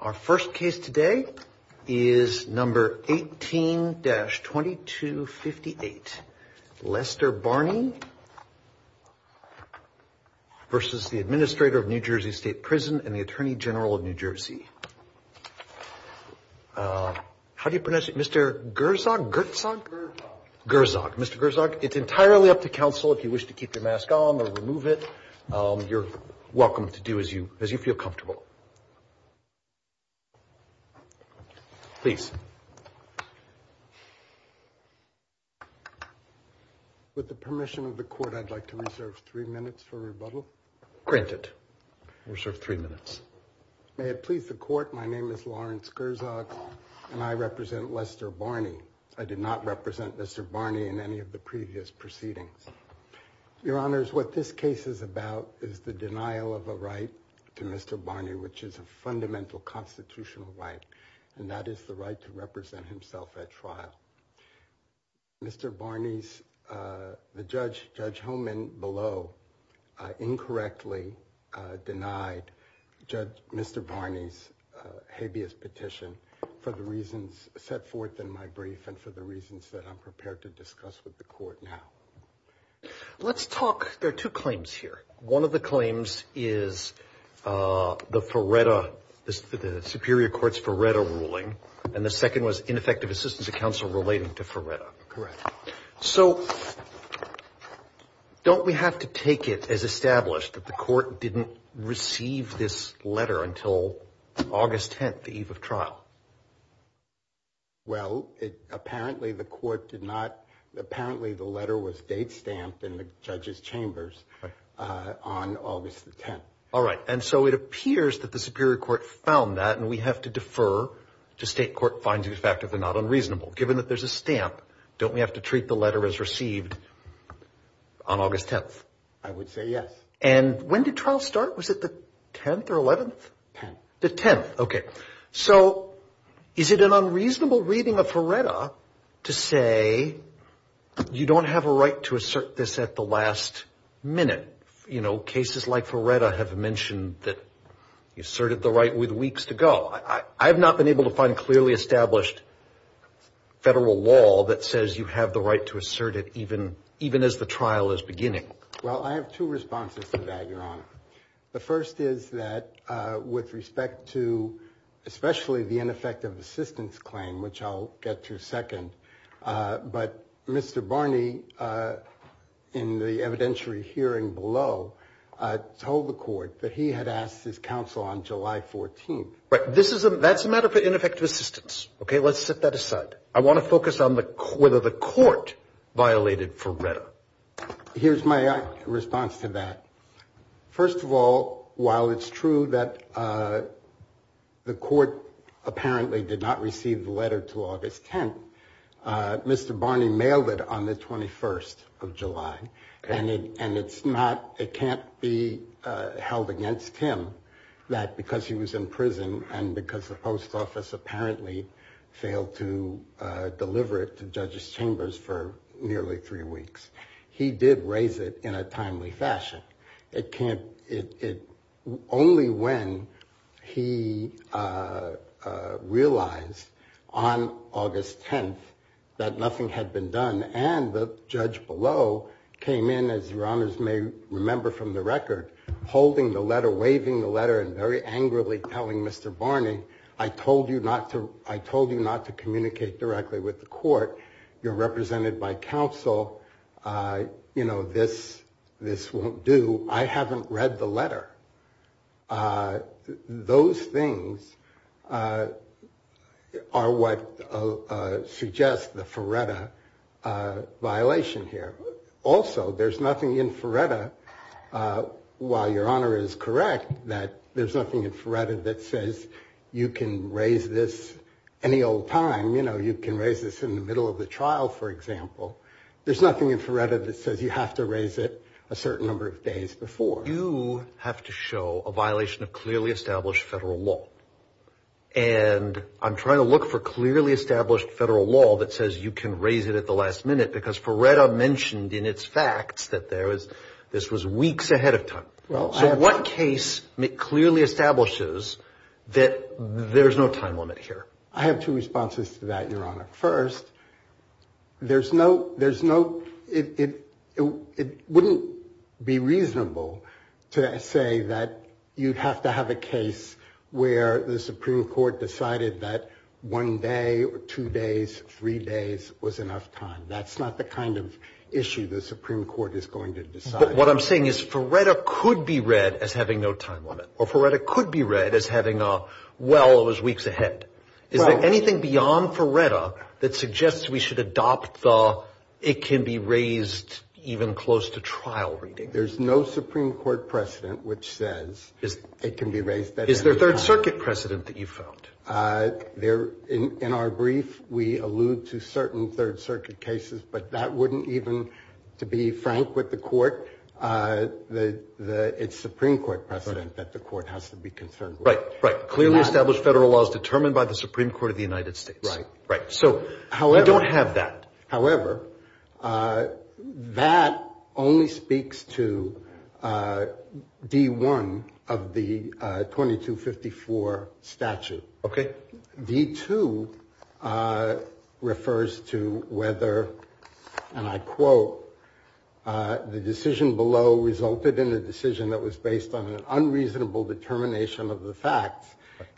Our first case today is number 18-2258. Lester Barney versus the Administrator of New Jersey State Prison and the Attorney General of New Jersey. How do you pronounce it? Mr. Gerzog? Gerzog? Gerzog. Mr. Gerzog. It's entirely up to counsel if you wish to keep your mask on or remove it. You're welcome to do as you as you feel comfortable. Please. With the permission of the court, I'd like to reserve three minutes for rebuttal. Granted. Reserve three minutes. May it please the court, my name is Lawrence Gerzog and I represent Lester Barney. I did not represent Mr. Barney in any of the previous proceedings. Your honors, what this case is about is the denial of a right to Mr. Barney, which is a fundamental constitutional right, and that is the right to represent himself at trial. Mr. Barney's, the judge, Judge Homan below, incorrectly denied Mr. Barney's habeas petition for the reasons set forth in my brief and for the reasons that I'm prepared to discuss with the court now. Let's talk, there are two claims here. One of the claims is the Ferretta, the Superior Court's Ferretta ruling, and the second was ineffective assistance of counsel relating to Ferretta. Correct. So don't we have to take it as established that the court didn't receive this letter until August 10th, the eve of trial? Well, apparently the court did not, apparently the letter was date stamped in the judge's chambers on August the 10th. All right, and so it appears that the Superior Court found that and we have to defer to state court finds it effective and not unreasonable. Given that there's a stamp, don't we have to treat the letter as received on August 10th? I would say yes. And when did trial start? Was it the 10th or 11th? The 10th. Okay, so is it an unreasonable reading of Ferretta to say you don't have a right to assert this at the last minute? You know, cases like Ferretta have mentioned that you asserted the right with weeks to go. I have not been able to find clearly established federal law that says you have the right to assert it even as the trial is beginning. Well, I have two responses to that, Your Honor. The first is that with respect to especially the ineffective assistance claim, which I'll get to second, but Mr. Barney in the evidentiary hearing below told the court that he had asked his counsel on July 14th. Right, that's a matter for ineffective assistance. Okay, let's set that aside. I want to focus on whether the court violated Ferretta. Here's my response to that. First of all, while it's true that the court apparently did not receive the letter to August 10th, Mr. Barney mailed it on the 21st of July. And it's not, it can't be held against him that because he was in prison and because the post office apparently failed to deliver it to judges chambers for nearly three weeks, he did raise it in a timely fashion. It can't, it, only when he realized on August 10th that nothing had been done and the judge below came in, as Your Honors may remember from the record, holding the letter, waving the letter and very angrily telling Mr. Barney, I told you not to, I told you not to communicate directly with the court. You're represented by counsel. You know, this, this won't do. I haven't read the letter. Those things are what suggest the Ferretta violation here. Also, there's nothing in Ferretta, uh, while Your Honor is correct, that there's nothing in Ferretta that says you can raise this any old time. You know, you can raise this in the middle of the trial, for example. There's nothing in Ferretta that says you have to raise it a certain number of days before. You have to show a violation of clearly established federal law. And I'm trying to look for clearly established federal law that says you can raise it at the last minute because Ferretta mentioned in its facts that there was, this was weeks ahead of time. So what case clearly establishes that there's no time limit here? I have two responses to that, Your Honor. First, there's no, there's no, it, it, it wouldn't be reasonable to say that you'd have to have a case where the Supreme Court decided that one day or two days, three days was enough time. That's not the kind of issue the Supreme Court is going to decide. But what I'm saying is Ferretta could be read as having no time limit, or Ferretta could be read as having a, well, it was weeks ahead. Is there anything beyond Ferretta that suggests we should adopt the, it can be raised even close to trial reading? There's no Supreme Court precedent which says it can be raised. Is there third circuit precedent that you've found? Uh, there, in, in our brief, we allude to certain third circuit cases, but that wouldn't even, to be frank with the court, uh, the, the, it's Supreme Court precedent that the court has to be concerned with. Right, right. Clearly established federal laws determined by the Supreme Court of the United States. Right, right. So, however, we don't have that. However, uh, that only speaks to, uh, D1 of the, uh, 2254 statute. Okay. D2, uh, refers to whether, and I quote, uh, the decision below resulted in a decision that was based on an unreasonable determination of the facts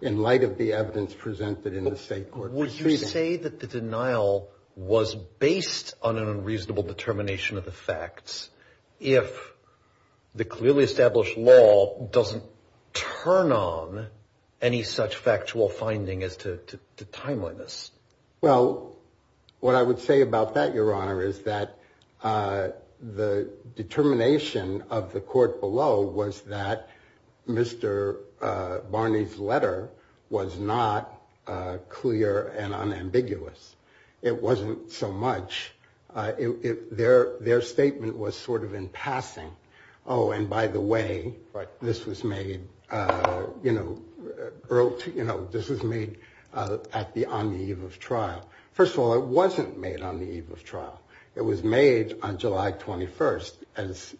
in light of the evidence presented in the state court proceeding. Would you say that the denial was based on an unreasonable determination of the facts if the clearly established law doesn't turn on any such factual finding as to, to, to timeliness? Well, what I would say about that, Your Honor, is that, uh, the determination of the court below was that Mr, uh, Barney's letter was not, uh, clear and unambiguous. It wasn't so much, uh, it, it, their, their statement was sort of in passing. Oh, and by the way, this was made, uh, you know, early, you know, this was made, uh, at the, on the eve of trial. First of all, it wasn't made on the eve of trial. It was made on July 21st as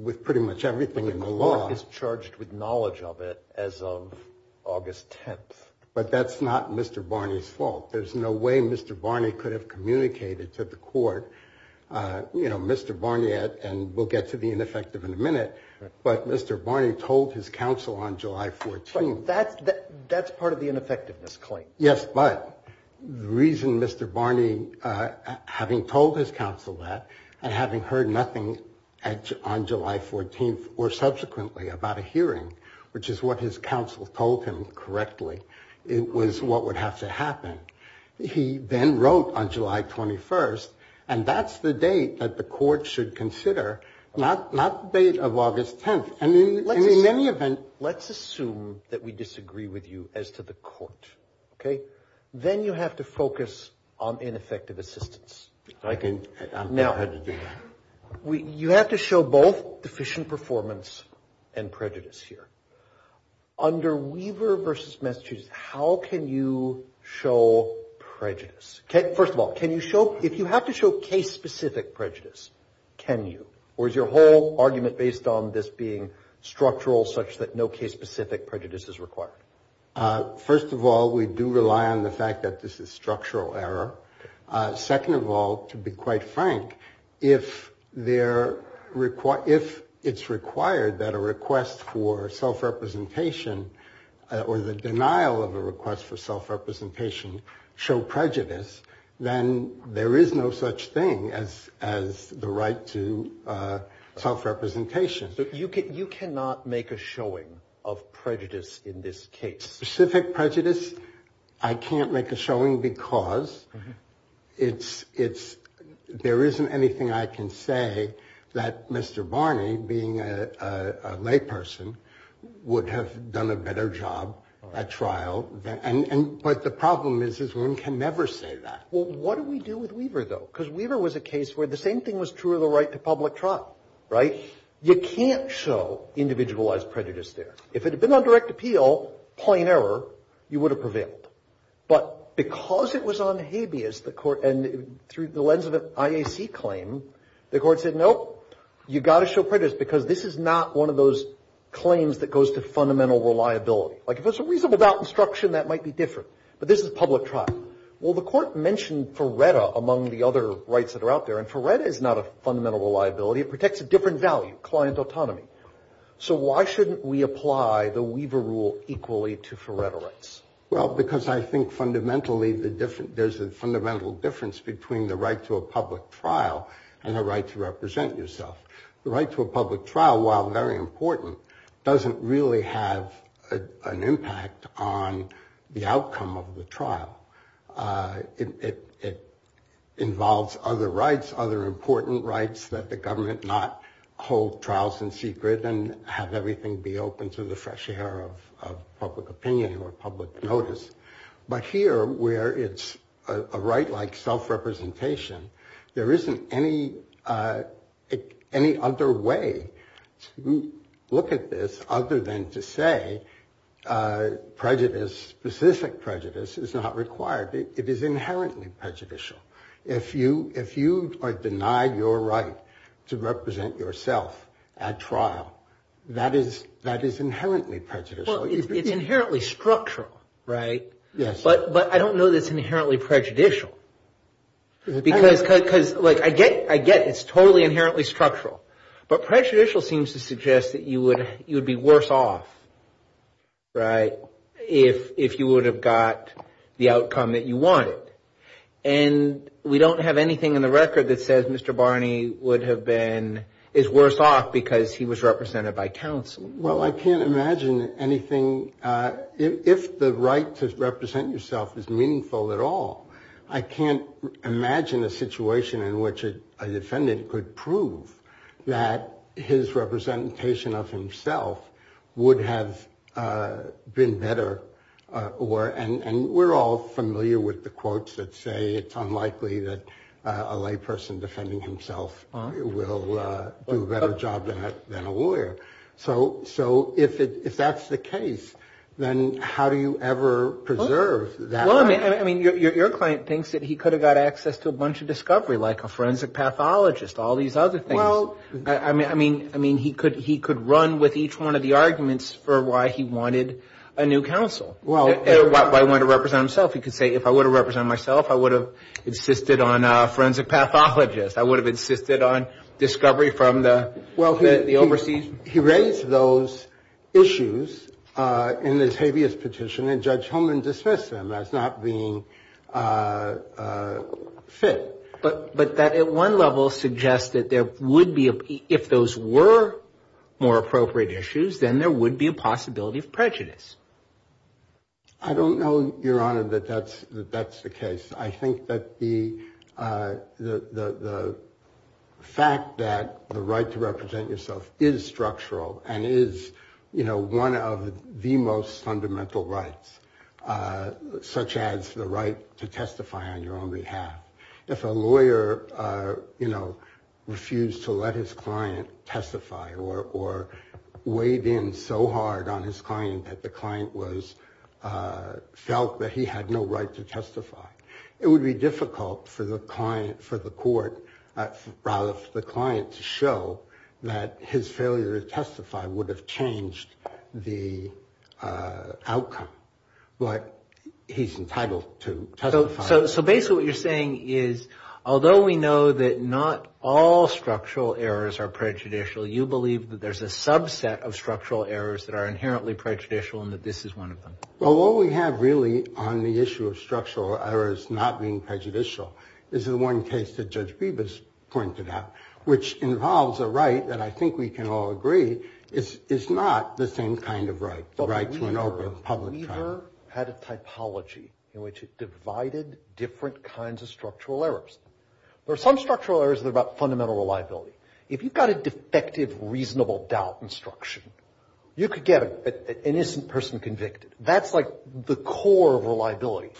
with pretty much everything in the law. The court is charged with knowledge of it as of August 10th. But that's not Mr. Barney's fault. There's no way Mr. Barney could have communicated to the court, uh, you know, Mr. Barnett and we'll get to the ineffective in a minute, but Mr. Barney told his counsel on July 14th. That's, that's part of the ineffectiveness claim. Yes. But the reason Mr. Barney, uh, having told his counsel that and having heard nothing on July 14th or subsequently about a what would have to happen, he then wrote on July 21st and that's the date that the court should consider, not, not the date of August 10th. And in, in any event. Let's assume that we disagree with you as to the court. Okay. Then you have to focus on ineffective assistance. I can. Now, we, you have to show both deficient performance and prejudice here. Under Weaver versus Massachusetts, how can you show prejudice? First of all, can you show, if you have to show case specific prejudice, can you, or is your whole argument based on this being structural such that no case specific prejudice is required? Uh, first of all, we do rely on the fact that this is structural error. Uh, second of all, to be quite frank, if they're required, if it's required that a request for self-representation or the denial of a request for self-representation show prejudice, then there is no such thing as, as the right to, uh, self-representation. You can, you cannot make a showing of prejudice in this case. Specific prejudice. I can't make a showing because it's, it's, there isn't anything I can say that Mr. Barney, being a, a layperson, would have done a better job at trial. And, and, but the problem is, is one can never say that. Well, what do we do with Weaver though? Because Weaver was a case where the same thing was true of the right to public trial, right? You can't show individualized prejudice there. If it had been on direct appeal, plain error, you would have prevailed. But because it was on habeas, the court, and through the lens of an IAC claim, the court said, nope, you've got to show prejudice because this is not one of those claims that goes to fundamental reliability. Like if it's a reasonable doubt instruction, that might be different. But this is public trial. Well, the court mentioned FERRETA among the other rights that are out there, and FERRETA is not a fundamental reliability. It protects a different value, client autonomy. So why shouldn't we apply the Weaver rule equally to FERRETA rights? Well, because I think fundamentally there's a fundamental difference between the right to a public trial and the right to represent yourself. The right to a public trial, while very important, doesn't really have an impact on the outcome of the trial. It involves other rights, other important rights that the government not hold trials in secret and have everything be open to the fresh air of public opinion or public notice. But here, where it's a right like self-representation, there isn't any other way to look at this other than to say prejudice, specific prejudice, is not that is inherently prejudicial. Well, it's inherently structural, right? But I don't know that it's inherently prejudicial. Because I get it's totally inherently structural. But prejudicial seems to suggest that you would be worse off, right, if you would have got the outcome that you wanted. And we don't have anything in the record that says Mr. Barney would have been, is worse off because he was represented by counsel. Well, I can't imagine anything, if the right to represent yourself is meaningful at all, I can't imagine a situation in which a defendant could prove that his representation of himself would have been better. And we're all familiar with the So if that's the case, then how do you ever preserve that? Well, I mean, your client thinks that he could have got access to a bunch of discovery, like a forensic pathologist, all these other things. I mean, he could run with each one of the arguments for why he wanted a new counsel, why he wanted to represent himself. He could say, if I would have represented myself, I would have insisted on a forensic pathologist. I would have insisted on discovery from the overseas. Well, he raised those issues in the Tavius petition, and Judge Holman dismissed them as not being fit. But that, at one level, suggests that there would be, if those were more appropriate issues, then there would be a possibility of prejudice. I don't know, Your Honor, that that's the case. I think that the fact that the right to represent yourself is structural and is, you know, one of the most fundamental rights, such as the right to testify on your own behalf. If a lawyer, you know, refused to let his client testify or weighed in so hard on his client that the client felt that he had no right to testify, it would be difficult for the court, rather for the client, to show that his failure to testify would have changed the outcome. But he's entitled to testify. So basically what you're saying is, although we know that not all structural errors are prejudicial, you believe that there's a subset of structural errors that are inherently prejudicial and that this is one of them. Well, what we have, really, on the issue of structural errors not being prejudicial, is the one case that Judge Bibas pointed out, which involves a right that I think we can all agree is not the same kind of right, the right to an open public trial. The lawyer had a typology in which it divided different kinds of structural errors. There are some structural errors that are about fundamental reliability. If you've got a defective reasonable doubt instruction, you could get an innocent person convicted. That's, like, the core of reliability.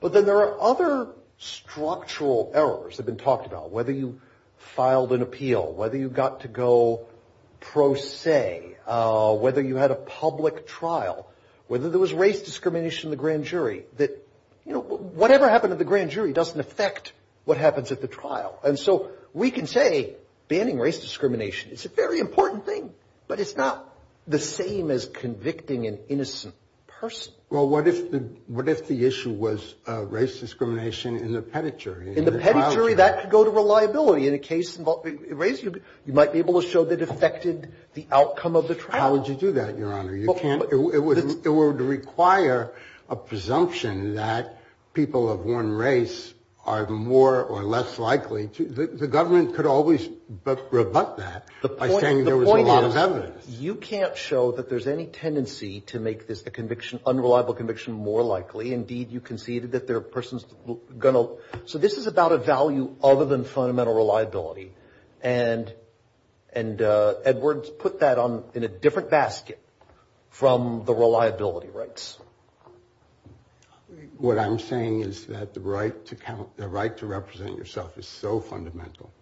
But then there are other structural errors that have been talked about, whether you filed an appeal, whether you got to go pro se, whether you had a public trial, whether there was race discrimination in the grand jury, that, you know, whatever happened at the grand jury doesn't affect what happens at the trial. And so we can say banning race discrimination is a very important thing, but it's not the same as convicting an innocent person. Well, what if the issue was race discrimination in the petit jury? In the petit jury, that could go to reliability. In a case involving race, you might be able to show that it affected the outcome of the trial. How would you do that, Your Honor? You can't. It would require a presumption that people of one race are more or less likely to the government could always rebut that by saying there was a lot of evidence. The point is, you can't show that there's any tendency to make this conviction, unreliable conviction, more likely. Indeed, you conceded that there are persons going to. So this is about a value other than fundamental reliability. And Edwards put that in a different basket from the reliability rights. What I'm saying is that the right to represent yourself is so fundamental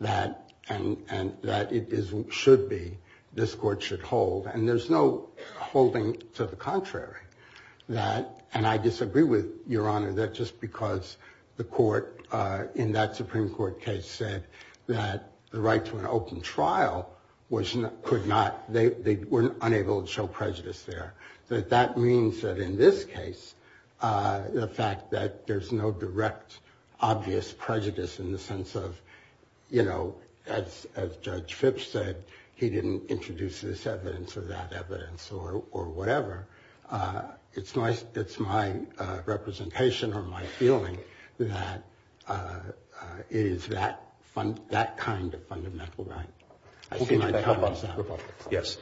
that it should be, this court should hold. And there's no holding to the contrary. And I disagree with Your Honor that just because the court in that Supreme Court case said that the right to an open trial was not, could not, they were unable to show prejudice there. That means that in this case, the fact that there's no direct, obvious prejudice in the sense of, you know, as Judge Phipps said, he didn't introduce this evidence or that evidence or whatever. It's my representation or my feeling that it is that fund, that kind of fundamental right. Yes.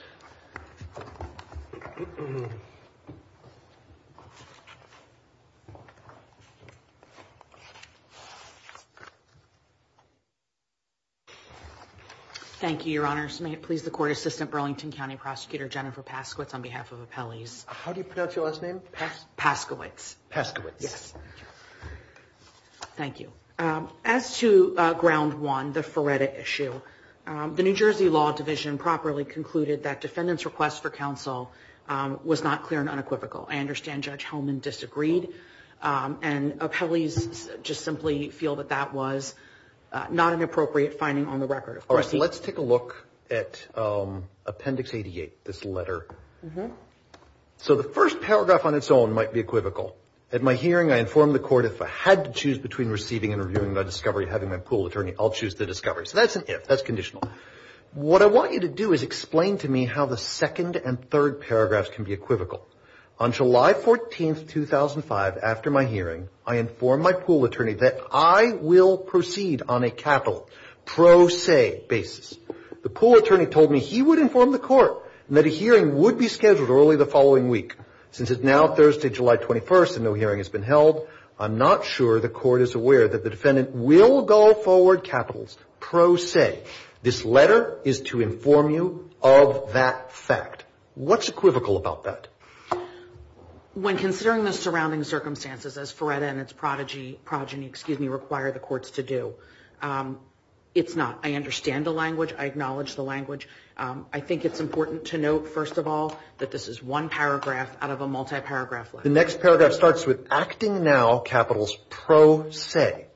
Thank you, Your Honor. May it please the court assistant Burlington County Prosecutor Jennifer Paskowitz on behalf of appellees. How do you pronounce your last name? Paskowitz. Paskowitz. Yes. Thank you. As to ground one, the Feretta issue, the New Jersey Law Division properly concluded that defendant's request for counsel was not clear and unequivocal. I understand Judge Hellman disagreed and appellees just simply feel that that was not an appropriate finding on the record. All right. Let's take a look at Appendix 88, this letter. So the first paragraph on its own might be equivocal. At my hearing, I informed the court if I had to choose between receiving and reviewing my discovery and having my pool attorney, I'll choose the discovery. So that's an if. That's conditional. What I want you to do is explain to me how the second and third paragraphs can be equivocal. On July 14th, 2005, after my hearing, I informed my pool attorney that I will proceed on a capital pro se basis. The pool attorney told me he would inform the court that a hearing would be scheduled early the following week. Since it's now Thursday, July 21st, and no hearing has been held, I'm not sure the court is aware that the defendant will go forward capitals pro se. This letter is to inform you of that fact. What's equivocal about that? When considering the surrounding circumstances, as Feretta and its progeny require the courts to do, it's not. I understand the language. I acknowledge the language. I think it's important to note, first of all, that this is one paragraph out of a multi-paragraph. The next paragraph starts with acting now capitals pro se.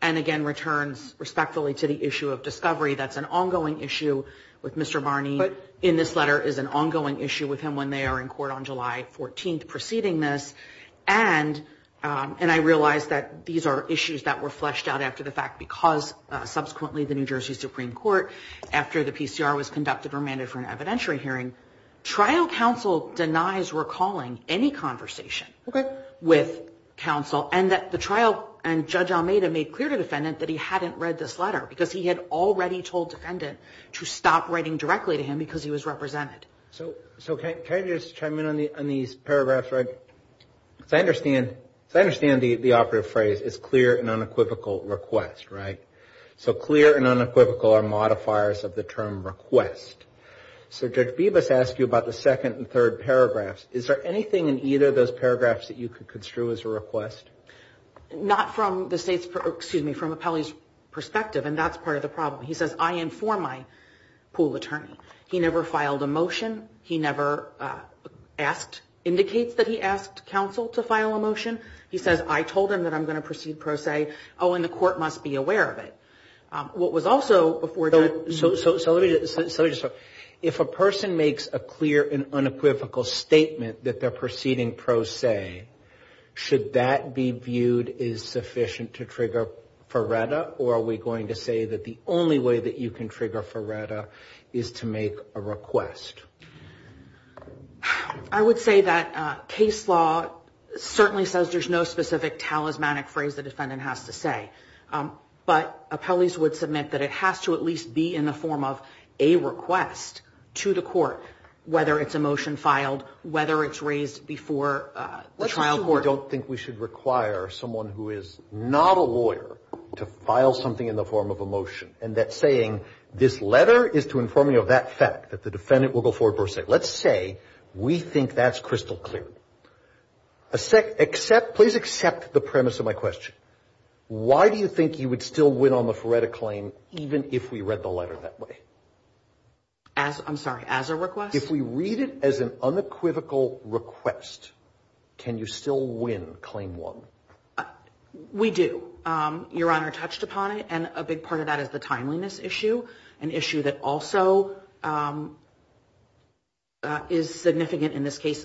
And again, returns respectfully to the issue of discovery. That's an ongoing issue with Mr. Barney. But in this letter is an ongoing issue with him when they are in court on July 14th preceding this. And I realize that these are issues that were fleshed out after the fact because subsequently the New Jersey Supreme Court, after the PCR was conducted, remanded for an evidentiary hearing. Trial counsel denies recalling any conversation with counsel and that the trial and Judge Almeida made clear to the defendant that he hadn't read this letter because he had already told defendant to stop writing directly to him because he was represented. So can I just chime in on these paragraphs? Because I understand the operative phrase is clear and unequivocal request, right? So clear and unequivocal are modifiers of the term request. So Judge Bibas asked you about the second and third paragraphs. Is there anything in either of those paragraphs that you could construe as a request? Not from the State's, excuse me, from Appellee's perspective, and that's part of the problem. He says, I inform my pool attorney. He never filed a motion. He never asked, indicates that he asked counsel to file a motion. He says, I told him that I'm going to proceed pro se. Oh, and the court must be aware of it. What was also before Judge. So let me just, if a person makes a clear and unequivocal statement that they're proceeding pro se, should that be viewed as sufficient to trigger Ferretta, or are we going to say that the only way that you can trigger Ferretta is to make a request? I would say that case law certainly says there's no specific talismanic phrase the defendant has to say. But Appellee's would submit that it has to at least be in the form of a request to the court, whether it's a motion filed, whether it's raised before the trial court. I don't think we should require someone who is not a lawyer to file something in the form of a motion, and that saying this letter is to inform you of that fact, that the defendant will go forward pro se. Let's say we think that's crystal clear. Please accept the premise of my question. Why do you think you would still win on the Ferretta claim, even if we read the letter that way? I'm sorry, as a request? If we read it as an unequivocal request, can you still win claim one? We do. Your Honor touched upon it, and a big part of that is the timeliness issue, an issue that also is significant in this case.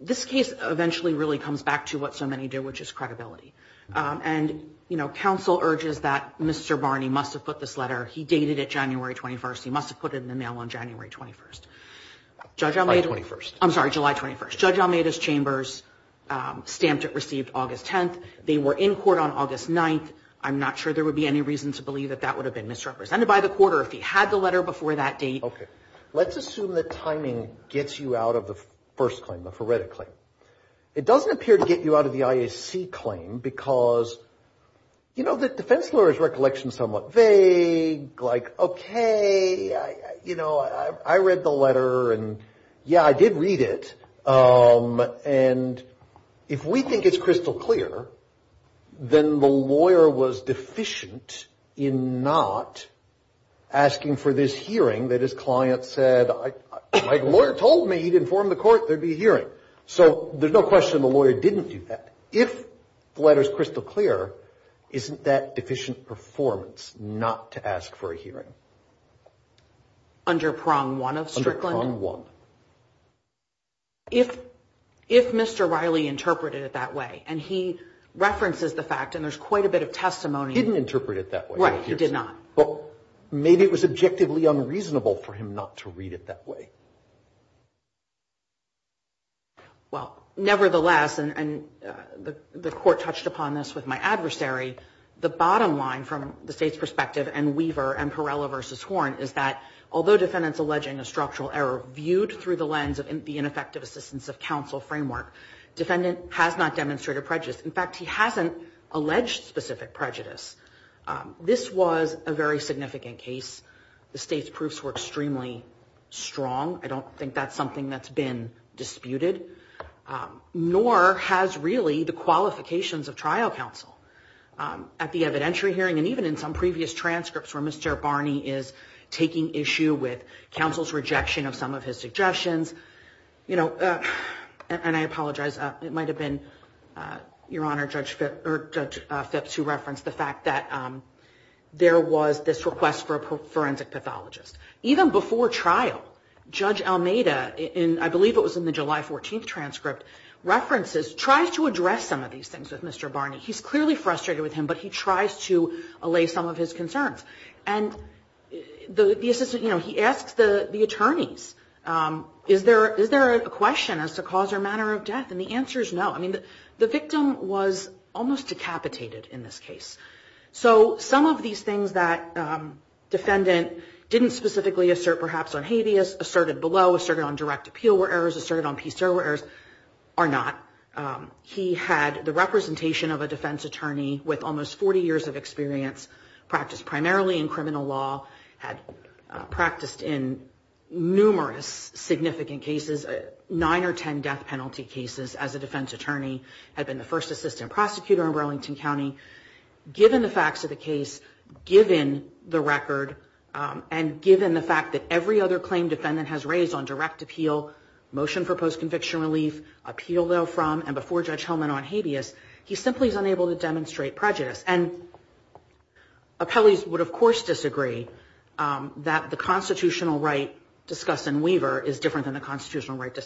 This case eventually really comes back to what so many do, which is credibility. And, you know, counsel urges that Mr. Barney must have put this letter. He dated it January 21st. He must have put it in the mail on January 21st. July 21st. I'm sorry, July 21st. Judge Almeida's chambers stamped it received August 10th. They were in court on August 9th. I'm not sure there would be any reason to believe that that would have been misrepresented by the court or if he had the letter before that date. Okay. Let's assume that timing gets you out of the first claim, the Ferretta claim. It doesn't appear to get you out of the IAC claim because, you know, the defense lawyer's recollection is somewhat vague. Like, okay, you know, I read the letter, and, yeah, I did read it. And if we think it's crystal clear, then the lawyer was deficient in not asking for this hearing that his client said, my lawyer told me he'd inform the court there'd be a hearing. So there's no question the lawyer didn't do that. If the letter's crystal clear, isn't that deficient performance not to ask for a hearing? Under prong one of Strickland? Under prong one. If Mr. Riley interpreted it that way, and he references the fact, and there's quite a bit of testimony. He didn't interpret it that way. Right, he did not. But maybe it was objectively unreasonable for him not to read it that way. Well, nevertheless, and the court touched upon this with my adversary, the bottom line from the state's perspective and Weaver and Perella versus Horn is that although defendants alleging a structural error viewed through the lens of the ineffective assistance of counsel framework, defendant has not demonstrated prejudice. In fact, he hasn't alleged specific prejudice. This was a very significant case. The state's proofs were extremely strong. I don't think that's something that's been disputed, nor has really the qualifications of trial counsel at the evidentiary hearing. And even in some previous transcripts where Mr. Barney is taking issue with counsel's rejection of some of his suggestions, you know, and I apologize, it might have been, Your Honor, Judge Phipps who referenced the fact that there was this request for a forensic pathologist. Even before trial, Judge Almeida, I believe it was in the July 14th transcript, references, tries to address some of these things with Mr. Barney. He's clearly frustrated with him, but he tries to allay some of his concerns. And the assistant, you know, he asks the attorneys, is there a question as to cause or manner of death? And the answer is no. I mean, the victim was almost decapitated in this case. So some of these things that defendant didn't specifically assert perhaps on habeas, asserted below, asserted on direct appeal where errors, asserted on piece error where errors, are not. He had the representation of a defense attorney with almost 40 years of experience, practiced primarily in criminal law, had practiced in numerous significant cases, nine or 10 death penalty cases as a defense attorney, had been the first assistant prosecutor in Burlington County. Given the facts of the case, given the record, and given the fact that every other claim defendant has raised on direct appeal, motion for post-conviction relief, appeal though from, and before Judge Hellman on habeas, he simply is unable to demonstrate prejudice. And appellees would of course disagree that the constitutional right discussed in Weaver is different than the constitutional right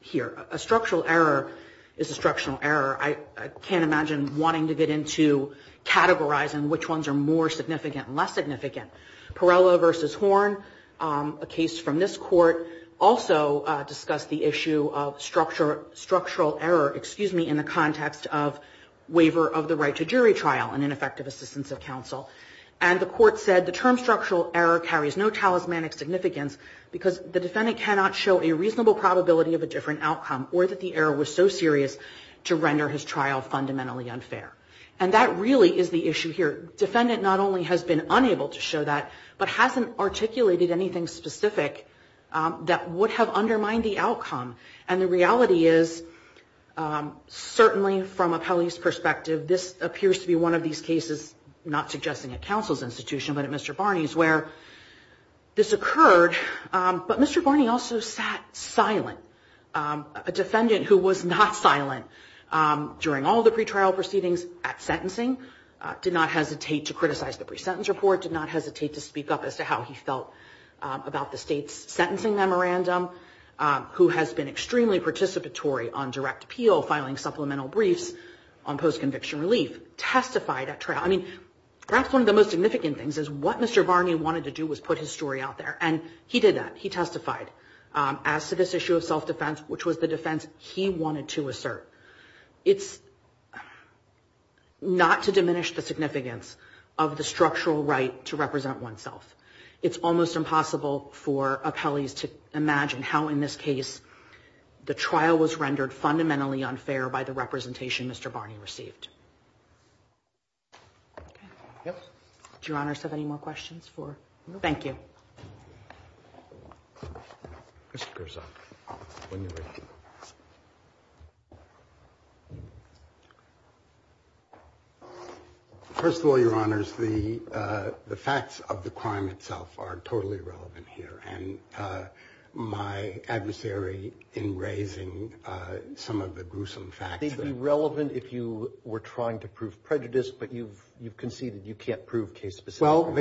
here. A structural error is a structural error. I can't imagine wanting to get into categorizing which ones are more significant and less significant. Perella v. Horn, a case from this court, also discussed the issue of structural error, excuse me, in the context of waiver of the right to jury trial and ineffective assistance of counsel. And the court said the term structural error carries no talismanic significance because the defendant cannot show a reasonable probability of a different outcome or that the error was so serious to render his trial fundamentally unfair. And that really is the issue here. The defendant not only has been unable to show that, but hasn't articulated anything specific that would have undermined the outcome. And the reality is, certainly from appellee's perspective, this appears to be one of these cases, not suggesting a counsel's institution, but at Mr. Barney's, where this occurred. But Mr. Barney also sat silent. A defendant who was not silent during all the pretrial proceedings at sentencing, did not hesitate to criticize the pre-sentence report, did not hesitate to speak up as to how he felt about the state's sentencing memorandum, who has been extremely participatory on direct appeal, filing supplemental briefs on post-conviction relief, testified at trial. I mean, perhaps one of the most significant things is what Mr. Barney wanted to do was put his story out there. And he did that, he testified as to this issue of self-defense, which was the defense he wanted to assert. It's not to diminish the significance of the structural right to represent oneself. It's almost impossible for appellees to imagine how, in this case, the trial was rendered fundamentally unfair by the representation Mr. Barney received. Okay. Do Your Honors have any more questions? Thank you. First of all, Your Honors, the facts of the crime itself are totally relevant here. And my adversary in raising some of the gruesome facts... Well, they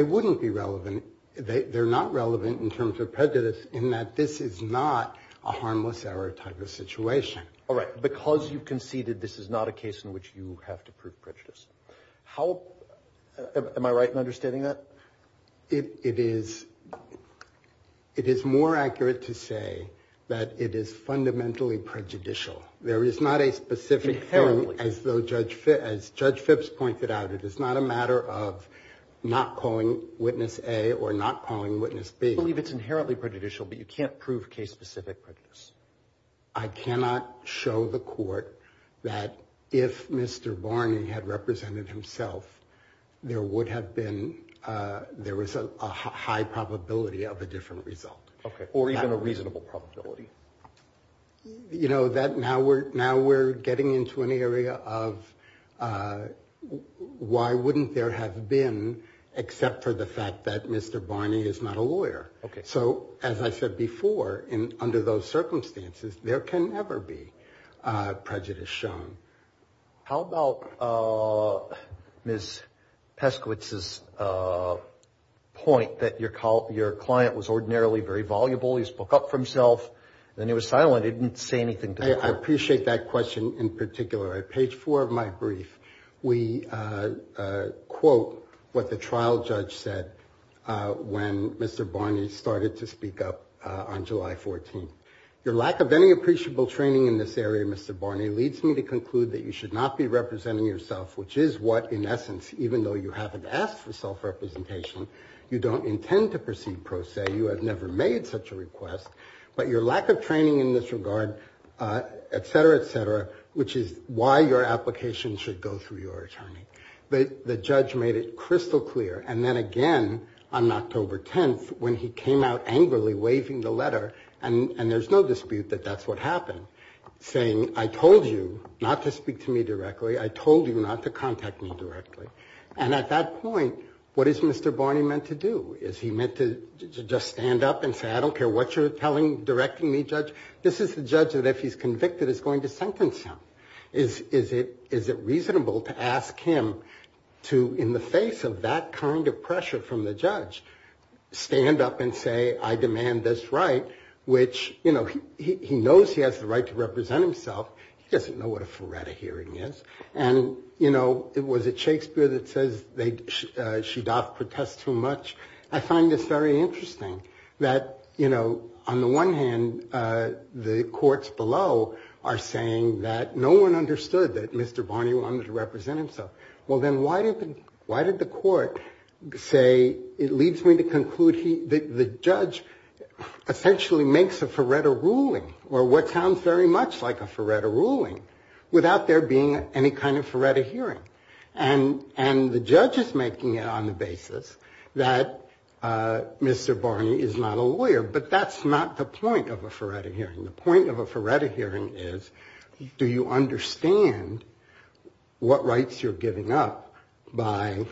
wouldn't be relevant. They're not relevant in terms of prejudice in that this is not a harmless error type of situation. All right. Because you conceded this is not a case in which you have to prove prejudice. Am I right in understanding that? It is more accurate to say that it is fundamentally prejudicial. There is not a specific... Inherently prejudicial. As Judge Phipps pointed out, it is not a matter of not calling witness A or not calling witness B. I believe it's inherently prejudicial, but you can't prove case-specific prejudice. I cannot show the court that if Mr. Barney had represented himself, there would have been... There was a high probability of a different result. Or even a reasonable probability. Now we're getting into an area of why wouldn't there have been, except for the fact that Mr. Barney is not a lawyer. So as I said before, under those circumstances, there can never be prejudice shown. How about Ms. Peskowitz's point that your client was ordinarily very voluble? He spoke up for himself, then he was silent, he didn't say anything to the court. I appreciate that question in particular. On page four of my brief, we quote what the trial judge said when Mr. Barney started to speak up on July 14. Your lack of any appreciable training in this area, Mr. Barney, leads me to conclude that you should not be representing yourself, which is what, in essence, even though you haven't asked for self-representation, you don't intend to proceed pro se. But your lack of training in this regard, et cetera, et cetera, which is why your application should go through your attorney. The judge made it crystal clear, and then again on October 10, when he came out angrily waving the letter, and there's no dispute that that's what happened, saying, I told you not to speak to me directly, I told you not to contact me directly. And at that point, what is Mr. Barney meant to do? Is he meant to just stand up and say, I don't care what you're telling, directing me, judge? This is the judge that, if he's convicted, is going to sentence him. Is it reasonable to ask him to, in the face of that kind of pressure from the judge, stand up and say, I demand this right, which, you know, he knows he has the right to represent himself. He doesn't know what a Faretta hearing is. And, you know, was it Shakespeare that says they, Shaddaf protest too much? I find this very interesting, that, you know, on the one hand, the courts below are saying that no one understood that Mr. Barney wanted to represent himself. Well, then why did the court say, it leads me to conclude that the judge essentially makes a Faretta ruling, or what sounds very much like a Faretta ruling, without there being any kind of Faretta hearing. And the judge is making it on the basis that Mr. Barney is not a lawyer. But that's not the point of a Faretta hearing. The point of a Faretta hearing is, do you understand what rights you're giving up by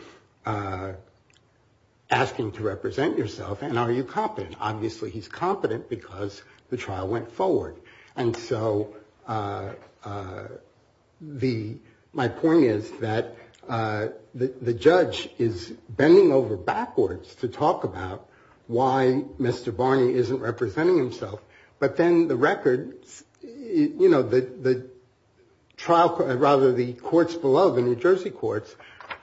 asking to represent yourself? And are you competent? And obviously he's competent because the trial went forward. And so the, my point is that the judge is bending over backwards to talk about why Mr. Barney isn't representing himself. But then the records, you know, the trial, rather the courts below, the New Jersey courts,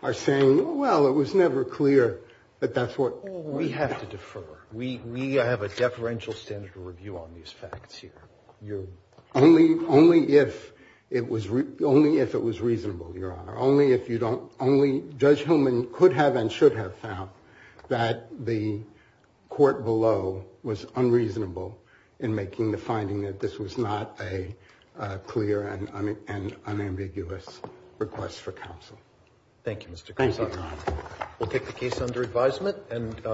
are saying, well, it was never clear that that's what. Well, we have to defer. We have a deferential standard of review on these facts here. Only if it was reasonable, Your Honor. Only if you don't, only Judge Hillman could have and should have found that the court below was unreasonable in making the finding that this was not a clear and unambiguous request for counsel. Thank you.